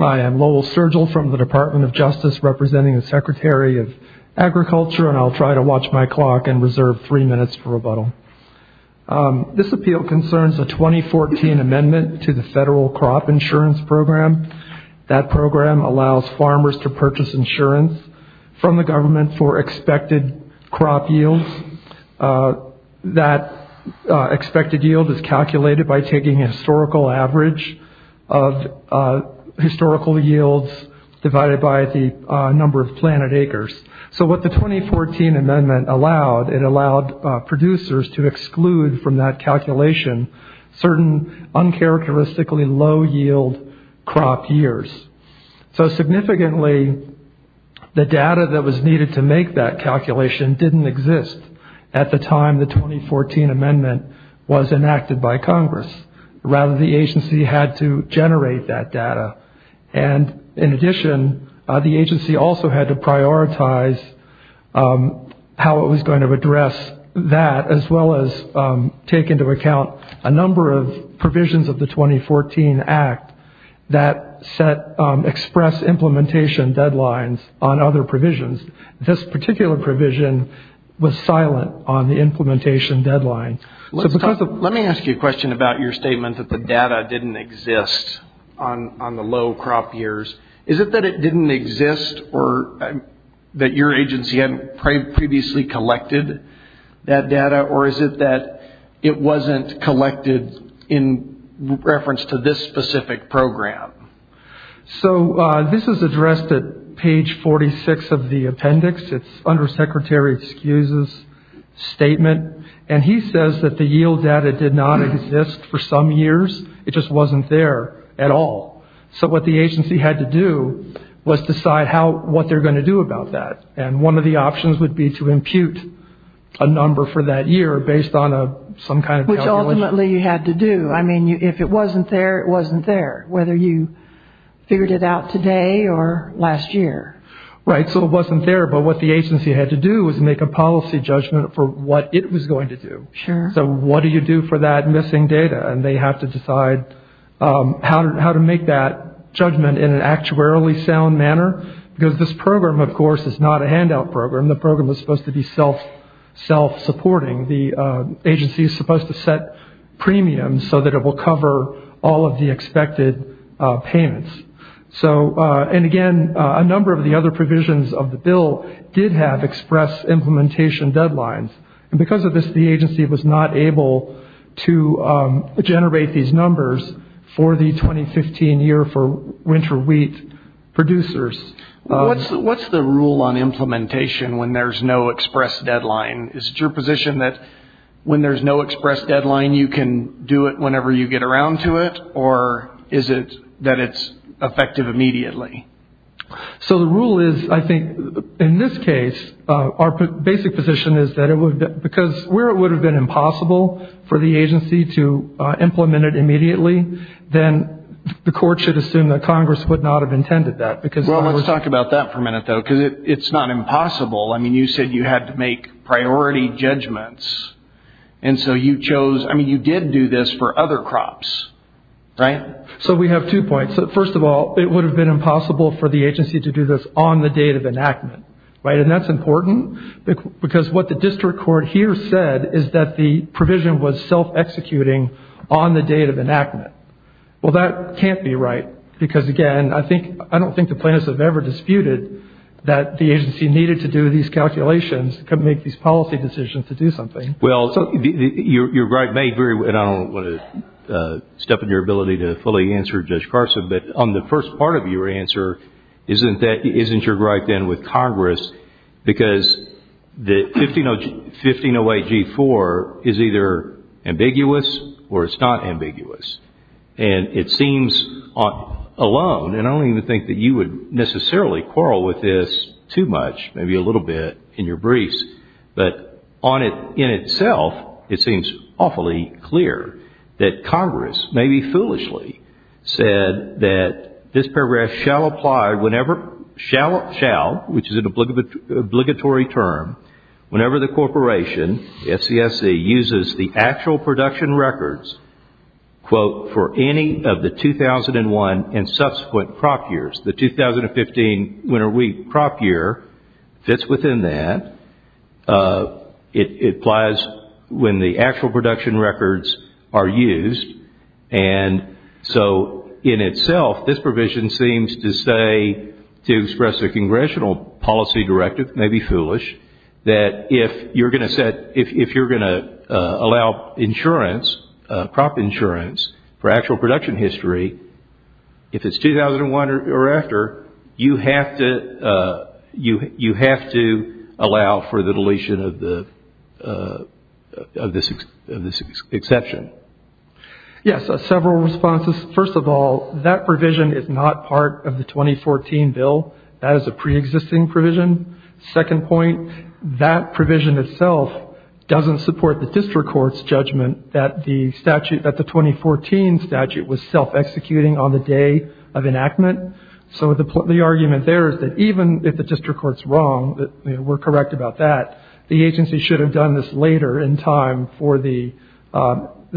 I am Lowell Sergel from the Department of Justice, representing the Secretary of Agriculture, and I'll try to watch my clock and reserve three minutes for rebuttal. This appeal concerns a 2014 amendment to the Federal Crop Insurance Program. That program allows farmers to purchase insurance from the government for expected crop yields. That expected yield is calculated by taking a historical average of historical yields divided by the number of planted acres. So what the 2014 amendment allowed, it allowed producers to exclude from that calculation certain uncharacteristically low yield crop years. So significantly, the data that was needed to make that calculation didn't exist at the time the 2014 amendment was enacted by Congress. Rather, the agency had to generate that data, and in addition, the agency also had to prioritize how it was going to address that, as well as take into account a number of provisions of the 2014 act that express implementation deadlines on other provisions. This particular provision was silent on the implementation deadline. Let me ask you a question about your statement that the data didn't exist on the low crop years. Is it that it didn't exist or that your agency hadn't previously collected that data, or is it that it wasn't collected in reference to this specific program? So this is addressed at page 46 of the appendix. It's Undersecretary Skew's statement, and he says that the yield data did not exist for some years. It just wasn't there at all. So what the agency had to do was decide what they were going to do about that, and one of the options would be to impute a number for that year based on some kind of calculation. Which ultimately you had to do. I mean, if it wasn't there, it wasn't there, whether you figured it out today or last year. Right, so it wasn't there, but what the agency had to do was make a policy judgment for what it was going to do. Sure. So what do you do for that missing data? And they have to decide how to make that judgment in an actuarially sound manner, because this program, of course, is not a handout program. The program was supposed to be self-supporting. The agency is supposed to set premiums so that it will cover all of the expected payments. So, and again, a number of the other provisions of the bill did have express implementation deadlines, and because of this, the agency was not able to generate these numbers for the 2015 year for winter wheat producers. What's the rule on implementation when there's no express deadline? Is it your position that when there's no express deadline, you can do it whenever you get around to it, or is it that it's effective immediately? So the rule is, I think, in this case, our basic position is that it would, because where it would have been impossible for the agency to implement it immediately, then the court should assume that Congress would not have intended that. Well, let's talk about that for a minute, though, because it's not impossible. I mean, you said you had to make priority judgments, and so you chose, I mean, you did do this for other crops, right? So we have two points. First of all, it would have been impossible for the agency to do this on the date of enactment, right? And that's important, because what the district court here said is that the provision was self-executing on the date of enactment. Well, that can't be right, because, again, I don't think the plaintiffs have ever disputed that the agency needed to do these calculations to make these policy decisions to do something. Well, you're right, and I don't want to step on your ability to fully answer Judge Carson, but on the first part of your answer, isn't your gripe then with Congress? Because the 1508G4 is either ambiguous or it's not ambiguous, and it seems alone, and I don't even think that you would necessarily quarrel with this too much, maybe a little bit in your briefs, but on it in itself, it seems awfully clear that Congress, maybe foolishly, said that this paragraph shall apply whenever, shall, which is an obligatory term, whenever the corporation, the FCSC, uses the actual production records, quote, for any of the 2001 and subsequent crop years. The 2015 winter wheat crop year fits within that. It applies when the actual production records are used, and so in itself, this provision seems to say, to express a congressional policy directive, maybe foolish, that if you're going to allow crop insurance for actual production history, if it's 2001 or after, you have to allow for the deletion of this exception. Yes, several responses. First of all, that provision is not part of the 2014 bill. That is a preexisting provision. Second point, that provision itself doesn't support the district court's judgment that the statute, that the 2014 statute was self-executing on the day of enactment. So the argument there is that even if the district court's wrong, we're correct about that, the agency should have done this later in time for the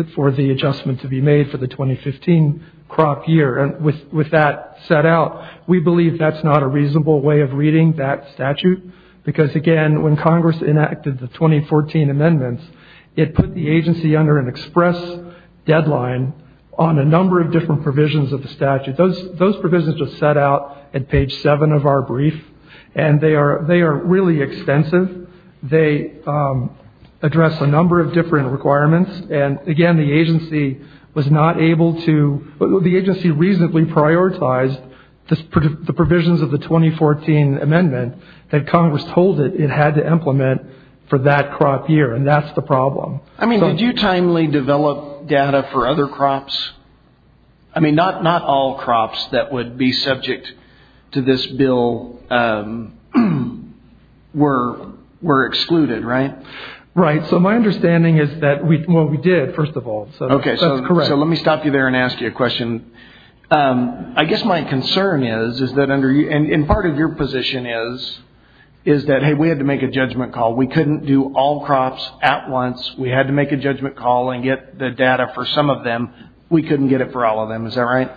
adjustment to be made for the 2015 crop year. With that set out, we believe that's not a reasonable way of reading that statute, because, again, when Congress enacted the 2014 amendments, it put the agency under an express deadline on a number of different provisions of the statute. Those provisions are set out at page 7 of our brief, and they are really extensive. They address a number of different requirements, and, again, the agency was not able to, the agency reasonably prioritized the provisions of the 2014 amendment that Congress told it it had to implement for that crop year, and that's the problem. I mean, did you timely develop data for other crops? I mean, not all crops that would be subject to this bill were excluded, right? Right. So my understanding is that, well, we did, first of all, so that's correct. So let me stop you there and ask you a question. I guess my concern is, and part of your position is, is that, hey, we had to make a judgment call. We couldn't do all crops at once. We had to make a judgment call and get the data for some of them. We couldn't get it for all of them. Is that right?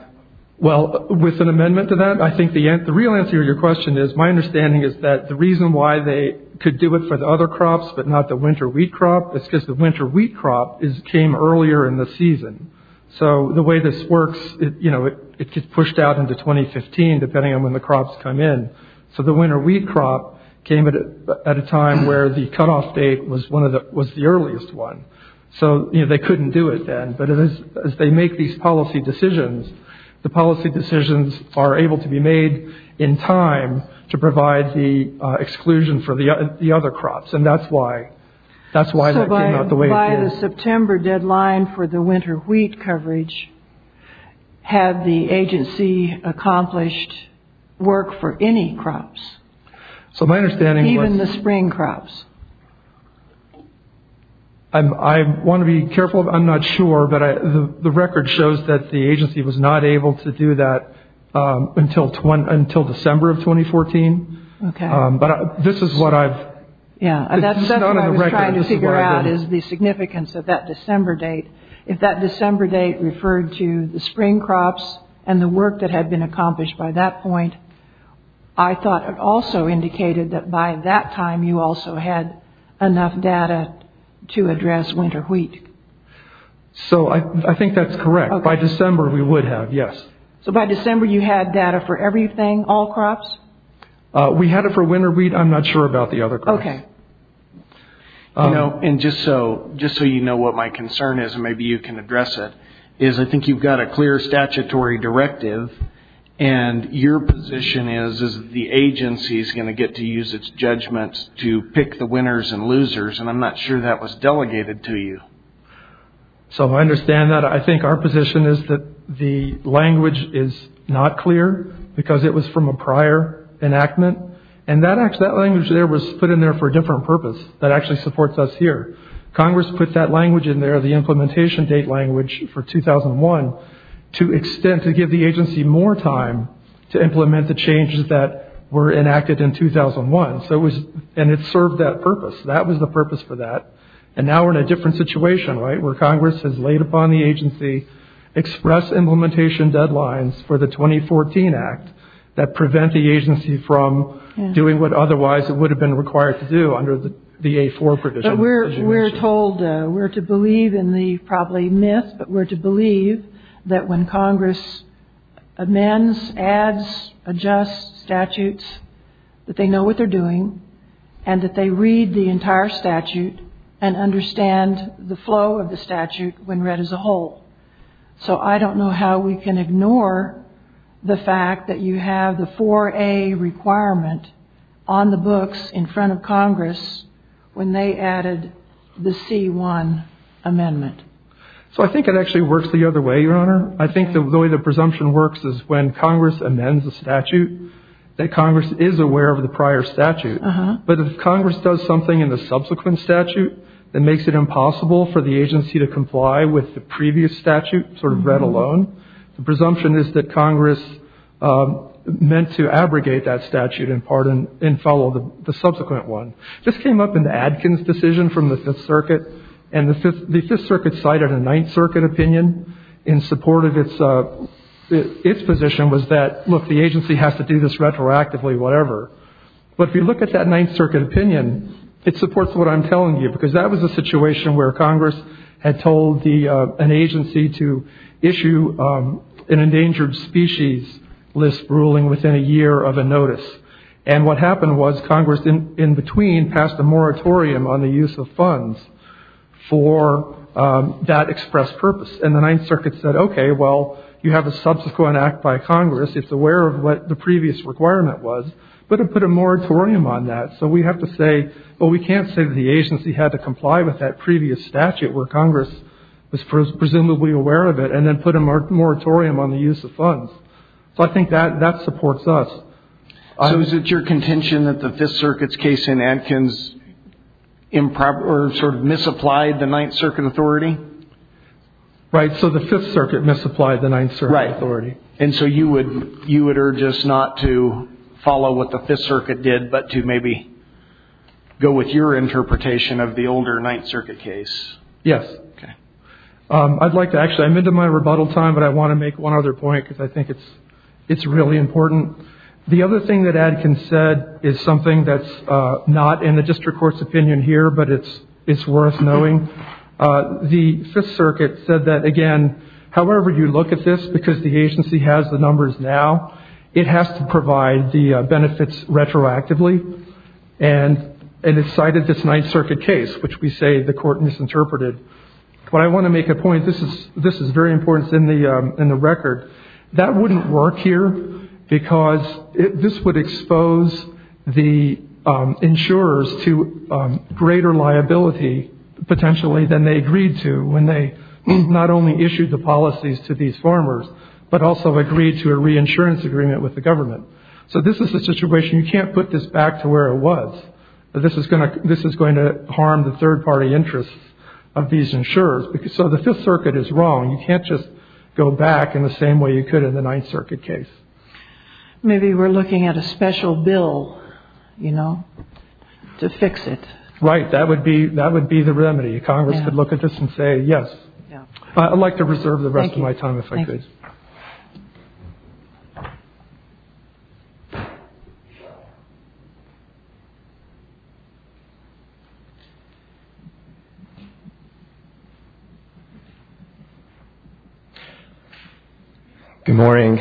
Well, with an amendment to that, I think the real answer to your question is, my understanding is that the reason why they could do it for the other crops but not the winter wheat crop, it's because the winter wheat crop came earlier in the season. So the way this works, you know, it gets pushed out into 2015, depending on when the crops come in. So the winter wheat crop came at a time where the cutoff date was the earliest one. So, you know, they couldn't do it then, but as they make these policy decisions, the policy decisions are able to be made in time to provide the exclusion for the other crops, and that's why that came out the way it did. So by the September deadline for the winter wheat coverage, had the agency accomplished work for any crops? So my understanding was... Even the spring crops? I want to be careful. I'm not sure, but the record shows that the agency was not able to do that until December of 2014. Okay. But this is what I've... Yeah, and that's what I was trying to figure out is the significance of that December date. If that December date referred to the spring crops and the work that had been accomplished by that point, I thought it also indicated that by that time you also had enough data to address winter wheat. So I think that's correct. By December we would have, yes. So by December you had data for everything, all crops? We had it for winter wheat. I'm not sure about the other crops. Okay. And just so you know what my concern is, and maybe you can address it, is I think you've got a clear statutory directive, and your position is that the agency is going to get to use its judgment to pick the winners and losers, and I'm not sure that was delegated to you. So I understand that. I think our position is that the language is not clear because it was from a prior enactment, and that language there was put in there for a different purpose that actually supports us here. Congress put that language in there, the implementation date language for 2001, to extend, to give the agency more time to implement the changes that were enacted in 2001, and it served that purpose. That was the purpose for that, and now we're in a different situation, right, where Congress has laid upon the agency express implementation deadlines for the 2014 Act that prevent the agency from doing what otherwise it would have been required to do under the V.A. 4 provision. But we're told, we're to believe in the probably myth, but we're to believe that when Congress amends, adds, adjusts statutes, that they know what they're doing, and that they read the entire statute and understand the flow of the statute when read as a whole. So I don't know how we can ignore the fact that you have the 4A requirement on the books in front of Congress when they added the C-1 amendment. So I think it actually works the other way, Your Honor. I think the way the presumption works is when Congress amends a statute, that Congress is aware of the prior statute. But if Congress does something in the subsequent statute that makes it impossible for the agency to comply with the previous statute sort of read alone, the presumption is that Congress meant to abrogate that statute in part and follow the subsequent one. This came up in the Adkins decision from the Fifth Circuit, and the Fifth Circuit cited a Ninth Circuit opinion in support of its position was that, look, the agency has to do this retroactively, whatever. But if you look at that Ninth Circuit opinion, it supports what I'm telling you, because that was a situation where Congress had told an agency to issue an endangered species list ruling within a year of a notice. And what happened was Congress in between passed a moratorium on the use of funds for that expressed purpose. And the Ninth Circuit said, okay, well, you have a subsequent act by Congress. It's aware of what the previous requirement was, but it put a moratorium on that. So we have to say, well, we can't say that the agency had to comply with that previous statute where Congress was presumably aware of it and then put a moratorium on the use of funds. So I think that supports us. So is it your contention that the Fifth Circuit's case in Adkins improper or sort of misapplied the Ninth Circuit authority? Right. So the Fifth Circuit misapplied the Ninth Circuit authority. Right. And so you would urge us not to follow what the Fifth Circuit did, but to maybe go with your interpretation of the older Ninth Circuit case? Yes. Okay. I'd like to actually, I'm into my rebuttal time, but I want to make one other point because I think it's really important. The other thing that Adkins said is something that's not in the district court's opinion here, but it's worth knowing. The Fifth Circuit said that, again, however you look at this, because the agency has the numbers now, it has to provide the benefits retroactively, and it cited this Ninth Circuit case, which we say the court misinterpreted. But I want to make a point. This is very important. It's in the record. That wouldn't work here because this would expose the insurers to greater liability, potentially, than they agreed to when they not only issued the policies to these farmers, but also agreed to a reinsurance agreement with the government. So this is the situation. You can't put this back to where it was. This is going to harm the third-party interests of these insurers. So the Fifth Circuit is wrong. You can't just go back in the same way you could in the Ninth Circuit case. Maybe we're looking at a special bill, you know, to fix it. Right. That would be the remedy. Congress could look at this and say, yes. I'd like to reserve the rest of my time if I could. Thank you. Good morning,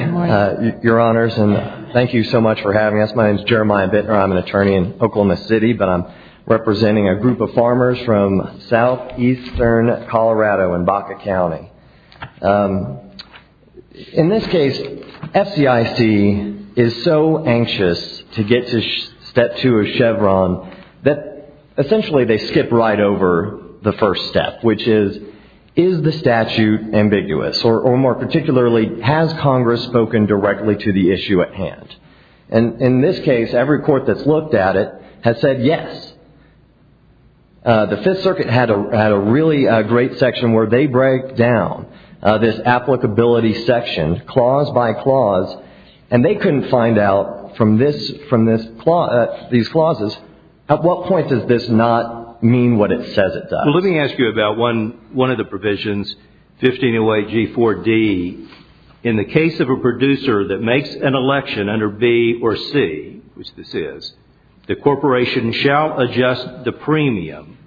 Your Honors, and thank you so much for having us. My name is Jeremiah Bittner. I'm an attorney in Oklahoma City, but I'm representing a group of farmers from southeastern Colorado in Baca County. In this case, FCIC is so anxious to get to step two of Chevron that, essentially, they skip right over the first step, which is, is the statute ambiguous, or more particularly, has Congress spoken directly to the issue at hand? In this case, every court that's looked at it has said yes. The Fifth Circuit had a really great section where they break down this applicability section, clause by clause, and they couldn't find out from these clauses, at what point does this not mean what it says it does? Let me ask you about one of the provisions, 1508G4D. In the case of a producer that makes an election under B or C, which this is, the corporation shall adjust the premium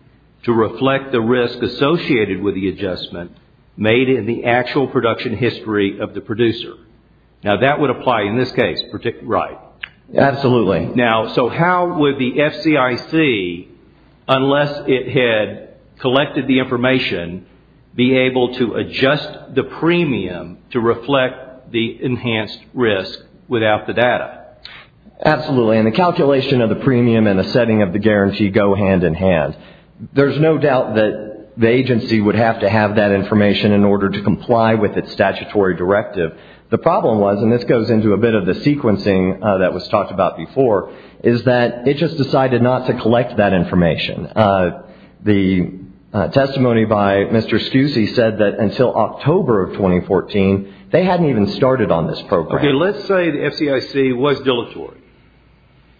to reflect the risk associated with the adjustment made in the actual production history of the producer. Now, that would apply in this case, right? Absolutely. Now, so how would the FCIC, unless it had collected the information, be able to adjust the premium to reflect the enhanced risk without the data? Absolutely, and the calculation of the premium and the setting of the guarantee go hand in hand. There's no doubt that the agency would have to have that information in order to comply with its statutory directive. The problem was, and this goes into a bit of the sequencing that was talked about before, is that it just decided not to collect that information. The testimony by Mr. Schuse said that until October of 2014, they hadn't even started on this program. Okay, let's say the FCIC was deleterious.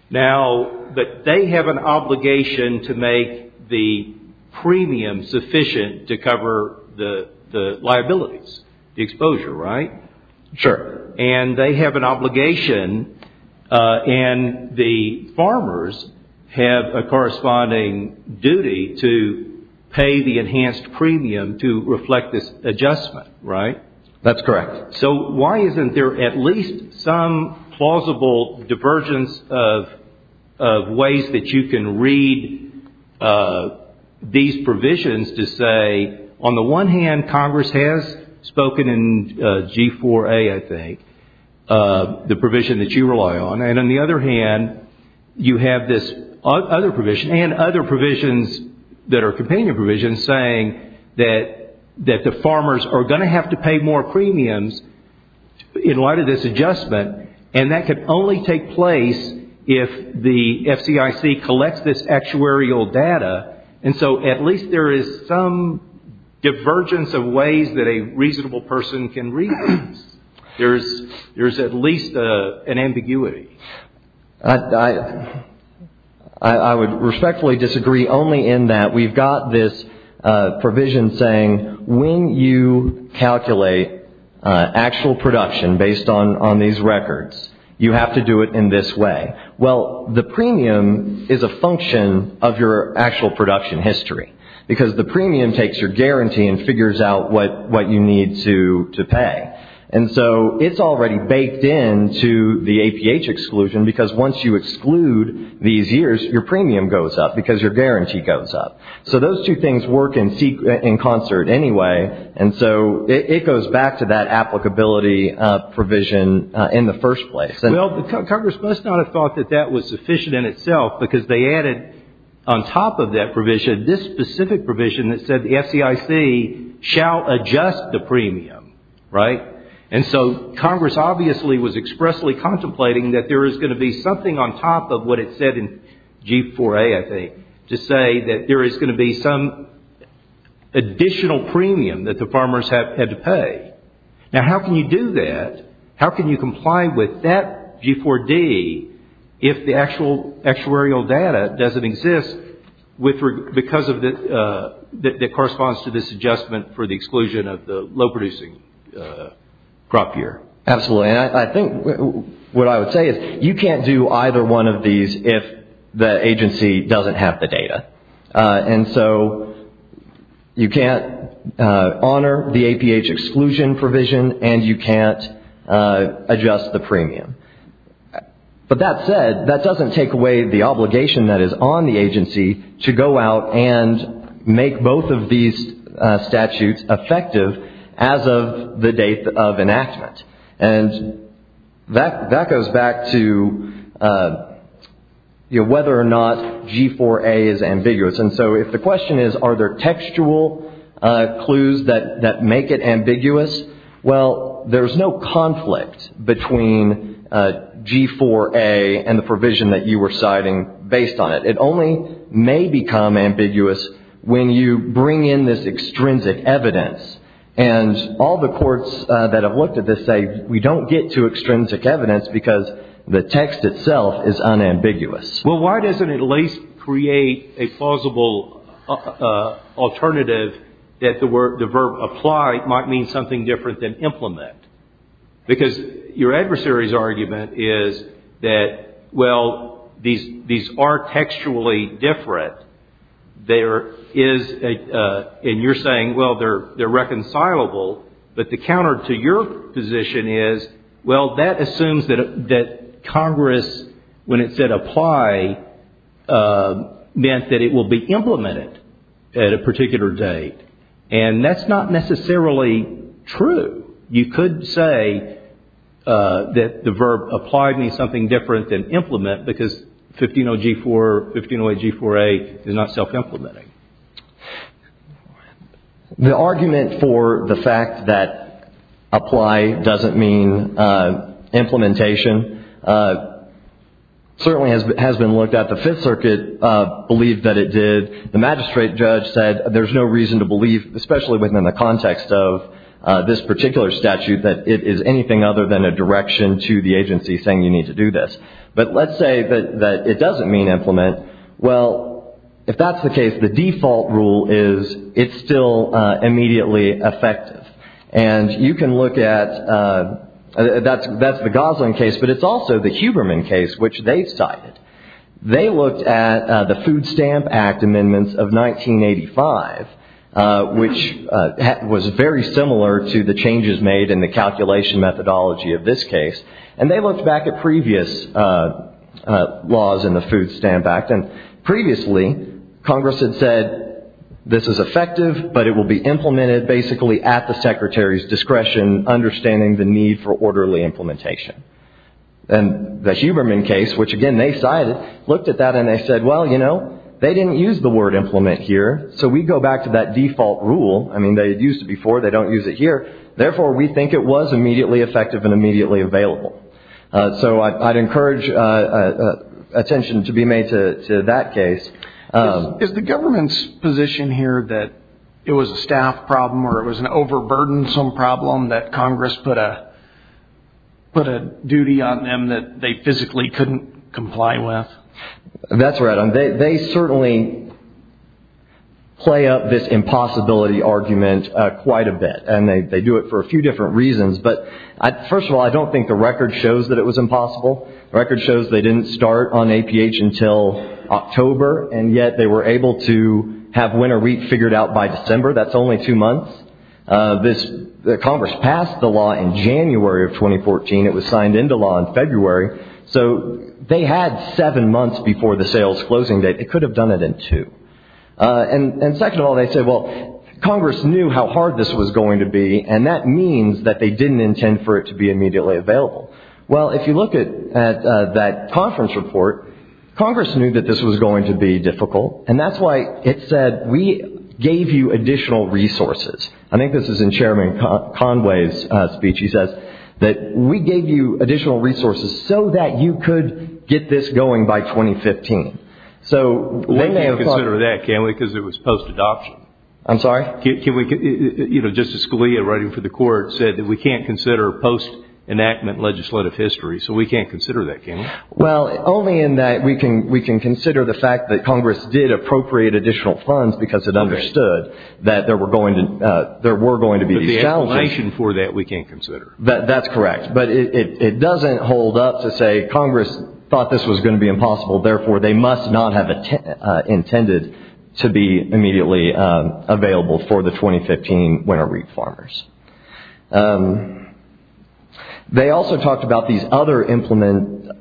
Now, they have an obligation to make the premium sufficient to cover the liabilities, the exposure, right? Sure. And they have an obligation, and the farmers have a corresponding duty to pay the enhanced premium to reflect this adjustment, right? That's correct. So why isn't there at least some plausible divergence of ways that you can read these provisions to say, on the one hand, Congress has spoken in G4A, I think, the provision that you rely on, and on the other hand, you have this other provision, and other provisions that are companion provisions, saying that the farmers are going to have to pay more premiums in light of this adjustment, and that can only take place if the FCIC collects this actuarial data. And so at least there is some divergence of ways that a reasonable person can read these. There's at least an ambiguity. I would respectfully disagree only in that we've got this provision saying, when you calculate actual production based on these records, you have to do it in this way. Well, the premium is a function of your actual production history, because the premium takes your guarantee and figures out what you need to pay. And so it's already baked into the APH exclusion, because once you exclude these years, your premium goes up because your guarantee goes up. So those two things work in concert anyway, and so it goes back to that applicability provision in the first place. Well, Congress must not have thought that that was sufficient in itself, because they added on top of that provision this specific provision that said the FCIC shall adjust the premium, right? And so Congress obviously was expressly contemplating that there is going to be something on top of what it said in G4A, I think, to say that there is going to be some additional premium that the farmers have to pay. Now, how can you do that? How can you comply with that G4D if the actual actuarial data doesn't exist, that corresponds to this adjustment for the exclusion of the low-producing crop year? Absolutely. And I think what I would say is you can't do either one of these if the agency doesn't have the data. And so you can't honor the APH exclusion provision, and you can't adjust the premium. But that said, that doesn't take away the obligation that is on the agency to go out and make both of these statutes effective as of the date of enactment. And that goes back to whether or not G4A is ambiguous. And so if the question is are there textual clues that make it ambiguous, well, there is no conflict between G4A and the provision that you were citing based on it. It only may become ambiguous when you bring in this extrinsic evidence. And all the courts that have looked at this say we don't get to extrinsic evidence because the text itself is unambiguous. Well, why doesn't it at least create a plausible alternative that the verb apply might mean something different than implement? Because your adversary's argument is that, well, these are textually different. And you're saying, well, they're reconcilable. But the counter to your position is, well, that assumes that Congress, when it said apply, meant that it will be implemented at a particular date. And that's not necessarily true. You could say that the verb apply means something different than implement because 150G4, 1508G4A is not self-implementing. The argument for the fact that apply doesn't mean implementation certainly has been looked at. The Fifth Circuit believed that it did. The magistrate judge said there's no reason to believe, especially within the context of this particular statute, that it is anything other than a direction to the agency saying you need to do this. But let's say that it doesn't mean implement. Well, if that's the case, the default rule is it's still immediately effective. And you can look at, that's the Gosling case, but it's also the Huberman case, which they cited. They looked at the Food Stamp Act amendments of 1985, which was very similar to the changes made in the calculation methodology of this case. And they looked back at previous laws in the Food Stamp Act, and previously Congress had said this is effective, but it will be implemented basically at the secretary's discretion, understanding the need for orderly implementation. And the Huberman case, which again they cited, looked at that and they said, well, you know, they didn't use the word implement here, so we go back to that default rule. I mean, they had used it before. They don't use it here. Therefore, we think it was immediately effective and immediately available. So I'd encourage attention to be made to that case. Is the government's position here that it was a staff problem or it was an overburdensome problem that Congress put a duty on them that they physically couldn't comply with? That's right. They certainly play up this impossibility argument quite a bit, and they do it for a few different reasons. But first of all, I don't think the record shows that it was impossible. The record shows they didn't start on APH until October, and yet they were able to have winter wheat figured out by December. That's only two months. Congress passed the law in January of 2014. It was signed into law in February. So they had seven months before the sales closing date. They could have done it in two. And second of all, they said, well, Congress knew how hard this was going to be, and that means that they didn't intend for it to be immediately available. Well, if you look at that conference report, Congress knew that this was going to be difficult, and that's why it said we gave you additional resources. I think this is in Chairman Conway's speech. He says that we gave you additional resources so that you could get this going by 2015. We can't consider that, can we, because it was post-adoption. I'm sorry? Justice Scalia, writing for the court, said that we can't consider post-enactment legislative history, so we can't consider that, can we? Well, only in that we can consider the fact that Congress did appropriate additional funds because it understood that there were going to be challenges. But the explanation for that we can't consider. That's correct. But it doesn't hold up to say Congress thought this was going to be impossible, therefore they must not have intended to be immediately available for the 2015 winter reef farmers. They also talked about these other implementation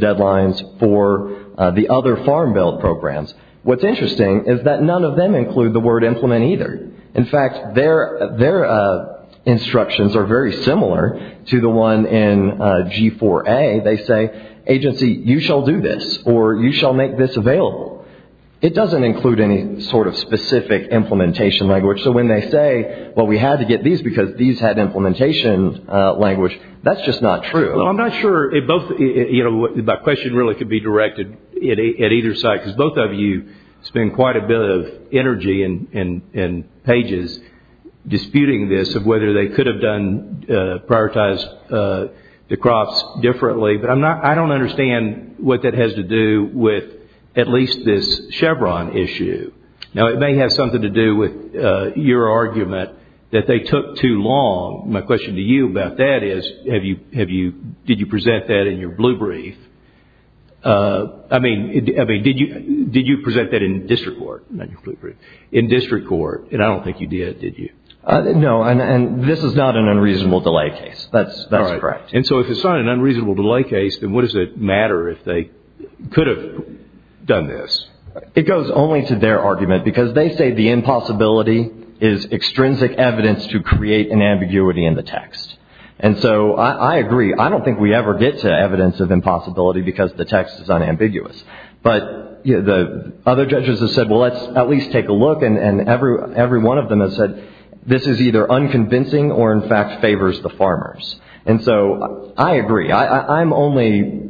deadlines for the other farm bill programs. What's interesting is that none of them include the word implement either. In fact, their instructions are very similar to the one in G4A. They say, agency, you shall do this, or you shall make this available. It doesn't include any sort of specific implementation language. So when they say, well, we had to get these because these had implementation language, that's just not true. Well, I'm not sure. My question really could be directed at either side because both of you spend quite a bit of energy and pages disputing this of whether they could have prioritized the crops differently. But I don't understand what that has to do with at least this Chevron issue. Now, it may have something to do with your argument that they took too long. My question to you about that is, did you present that in your blue brief? I mean, did you present that in district court? In district court, and I don't think you did, did you? No, and this is not an unreasonable delay case. That's correct. And so if it's not an unreasonable delay case, then what does it matter if they could have done this? It goes only to their argument because they say the impossibility is extrinsic evidence to create an ambiguity in the text. And so I agree. I don't think we ever get to evidence of impossibility because the text is unambiguous. But the other judges have said, well, let's at least take a look, and every one of them has said this is either unconvincing or, in fact, favors the farmers. And so I agree. I'm only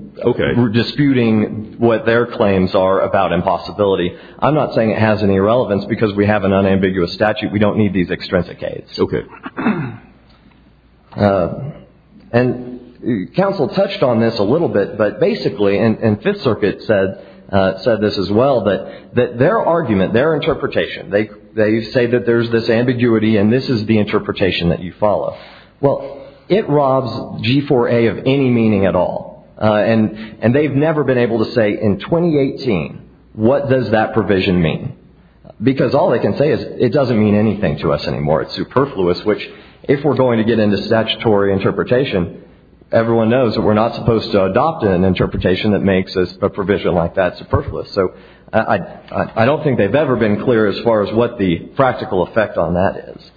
disputing what their claims are about impossibility. I'm not saying it has any relevance because we have an unambiguous statute. We don't need these extrinsic cases. Okay. And counsel touched on this a little bit, but basically, and Fifth Circuit said this as well, that their argument, their interpretation, they say that there's this ambiguity and this is the interpretation that you follow. Well, it robs G4A of any meaning at all, and they've never been able to say in 2018, what does that provision mean? Because all they can say is it doesn't mean anything to us anymore. It's superfluous, which, if we're going to get into statutory interpretation, everyone knows that we're not supposed to adopt an interpretation that makes a provision like that superfluous. So I don't think they've ever been clear as far as what the practical effect on that is.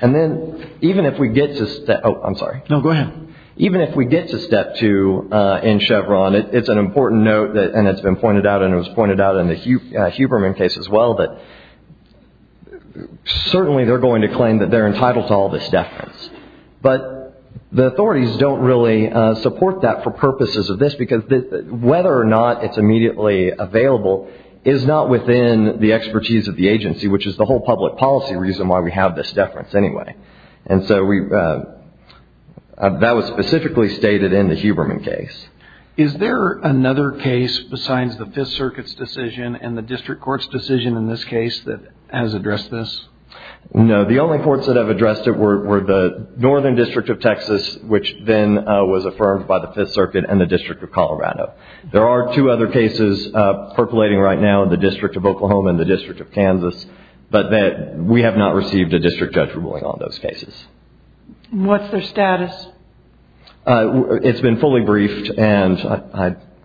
And then even if we get to step – oh, I'm sorry. No, go ahead. Even if we get to step two in Chevron, it's an important note and it's been pointed out and it was pointed out in the Huberman case as well that certainly they're going to claim that they're entitled to all this deference. But the authorities don't really support that for purposes of this, because whether or not it's immediately available is not within the expertise of the agency, which is the whole public policy reason why we have this deference anyway. And so that was specifically stated in the Huberman case. Is there another case besides the Fifth Circuit's decision and the district court's decision in this case that has addressed this? No. The only courts that have addressed it were the Northern District of Texas, which then was affirmed by the Fifth Circuit and the District of Colorado. There are two other cases percolating right now in the District of Oklahoma and the District of Kansas, but we have not received a district judge ruling on those cases. What's their status? It's been fully briefed and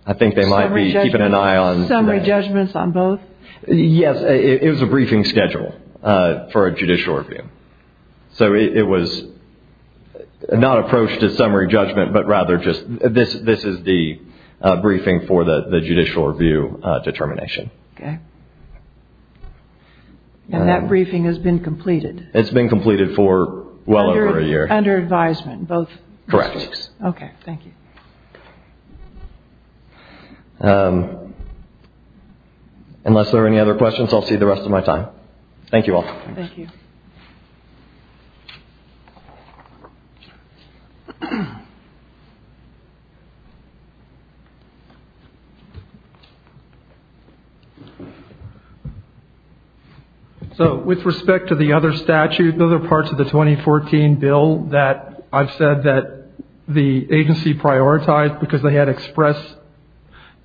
I think they might be keeping an eye on today. Summary judgments on both? Yes. It was a briefing schedule for a judicial review. So it was not approached as summary judgment, but rather just this is the briefing for the judicial review determination. Okay. And that briefing has been completed? It's been completed for well over a year. Under advisement both? Correct. Okay. Thank you. Unless there are any other questions, I'll see the rest of my time. Thank you all. Thank you. Thank you. So with respect to the other statute, the other parts of the 2014 bill that I've said that the agency prioritized because they had express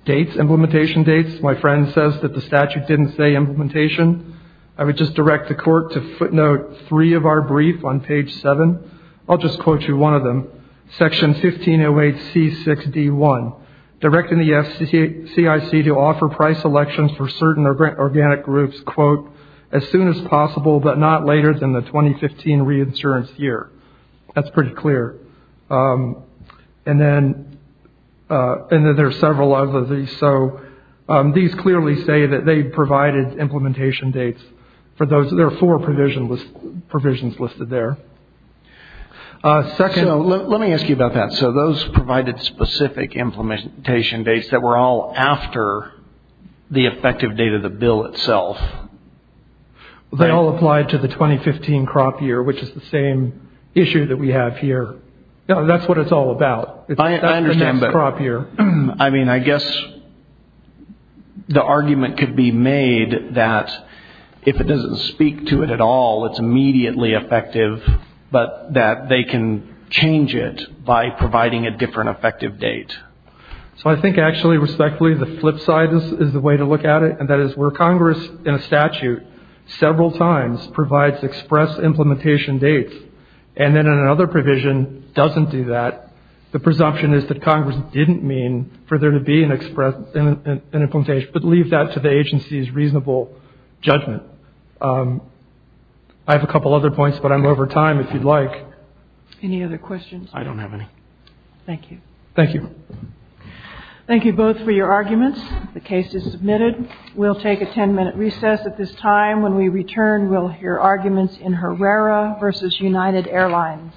dates, implementation dates. My friend says that the statute didn't say implementation. I would just direct the court to footnote three of our briefs on page seven. I'll just quote you one of them. Section 1508C6D1, directing the CIC to offer price selections for certain organic groups, quote, as soon as possible but not later than the 2015 reinsurance year. That's pretty clear. And then there are several of these. These clearly say that they provided implementation dates for those. There are four provisions listed there. Let me ask you about that. So those provided specific implementation dates that were all after the effective date of the bill itself. They all applied to the 2015 crop year, which is the same issue that we have here. That's what it's all about. I understand, but I mean, I guess the argument could be made that if it doesn't speak to it at all, it's immediately effective, but that they can change it by providing a different effective date. So I think actually, respectfully, the flip side is the way to look at it, and that is where Congress in a statute several times provides express implementation dates and then in another provision doesn't do that. The presumption is that Congress didn't mean for there to be an implementation, but leave that to the agency's reasonable judgment. I have a couple other points, but I'm over time if you'd like. Any other questions? I don't have any. Thank you. Thank you. Thank you both for your arguments. The case is submitted. We'll take a 10-minute recess at this time. When we return, we'll hear arguments in Herrera versus United Airlines.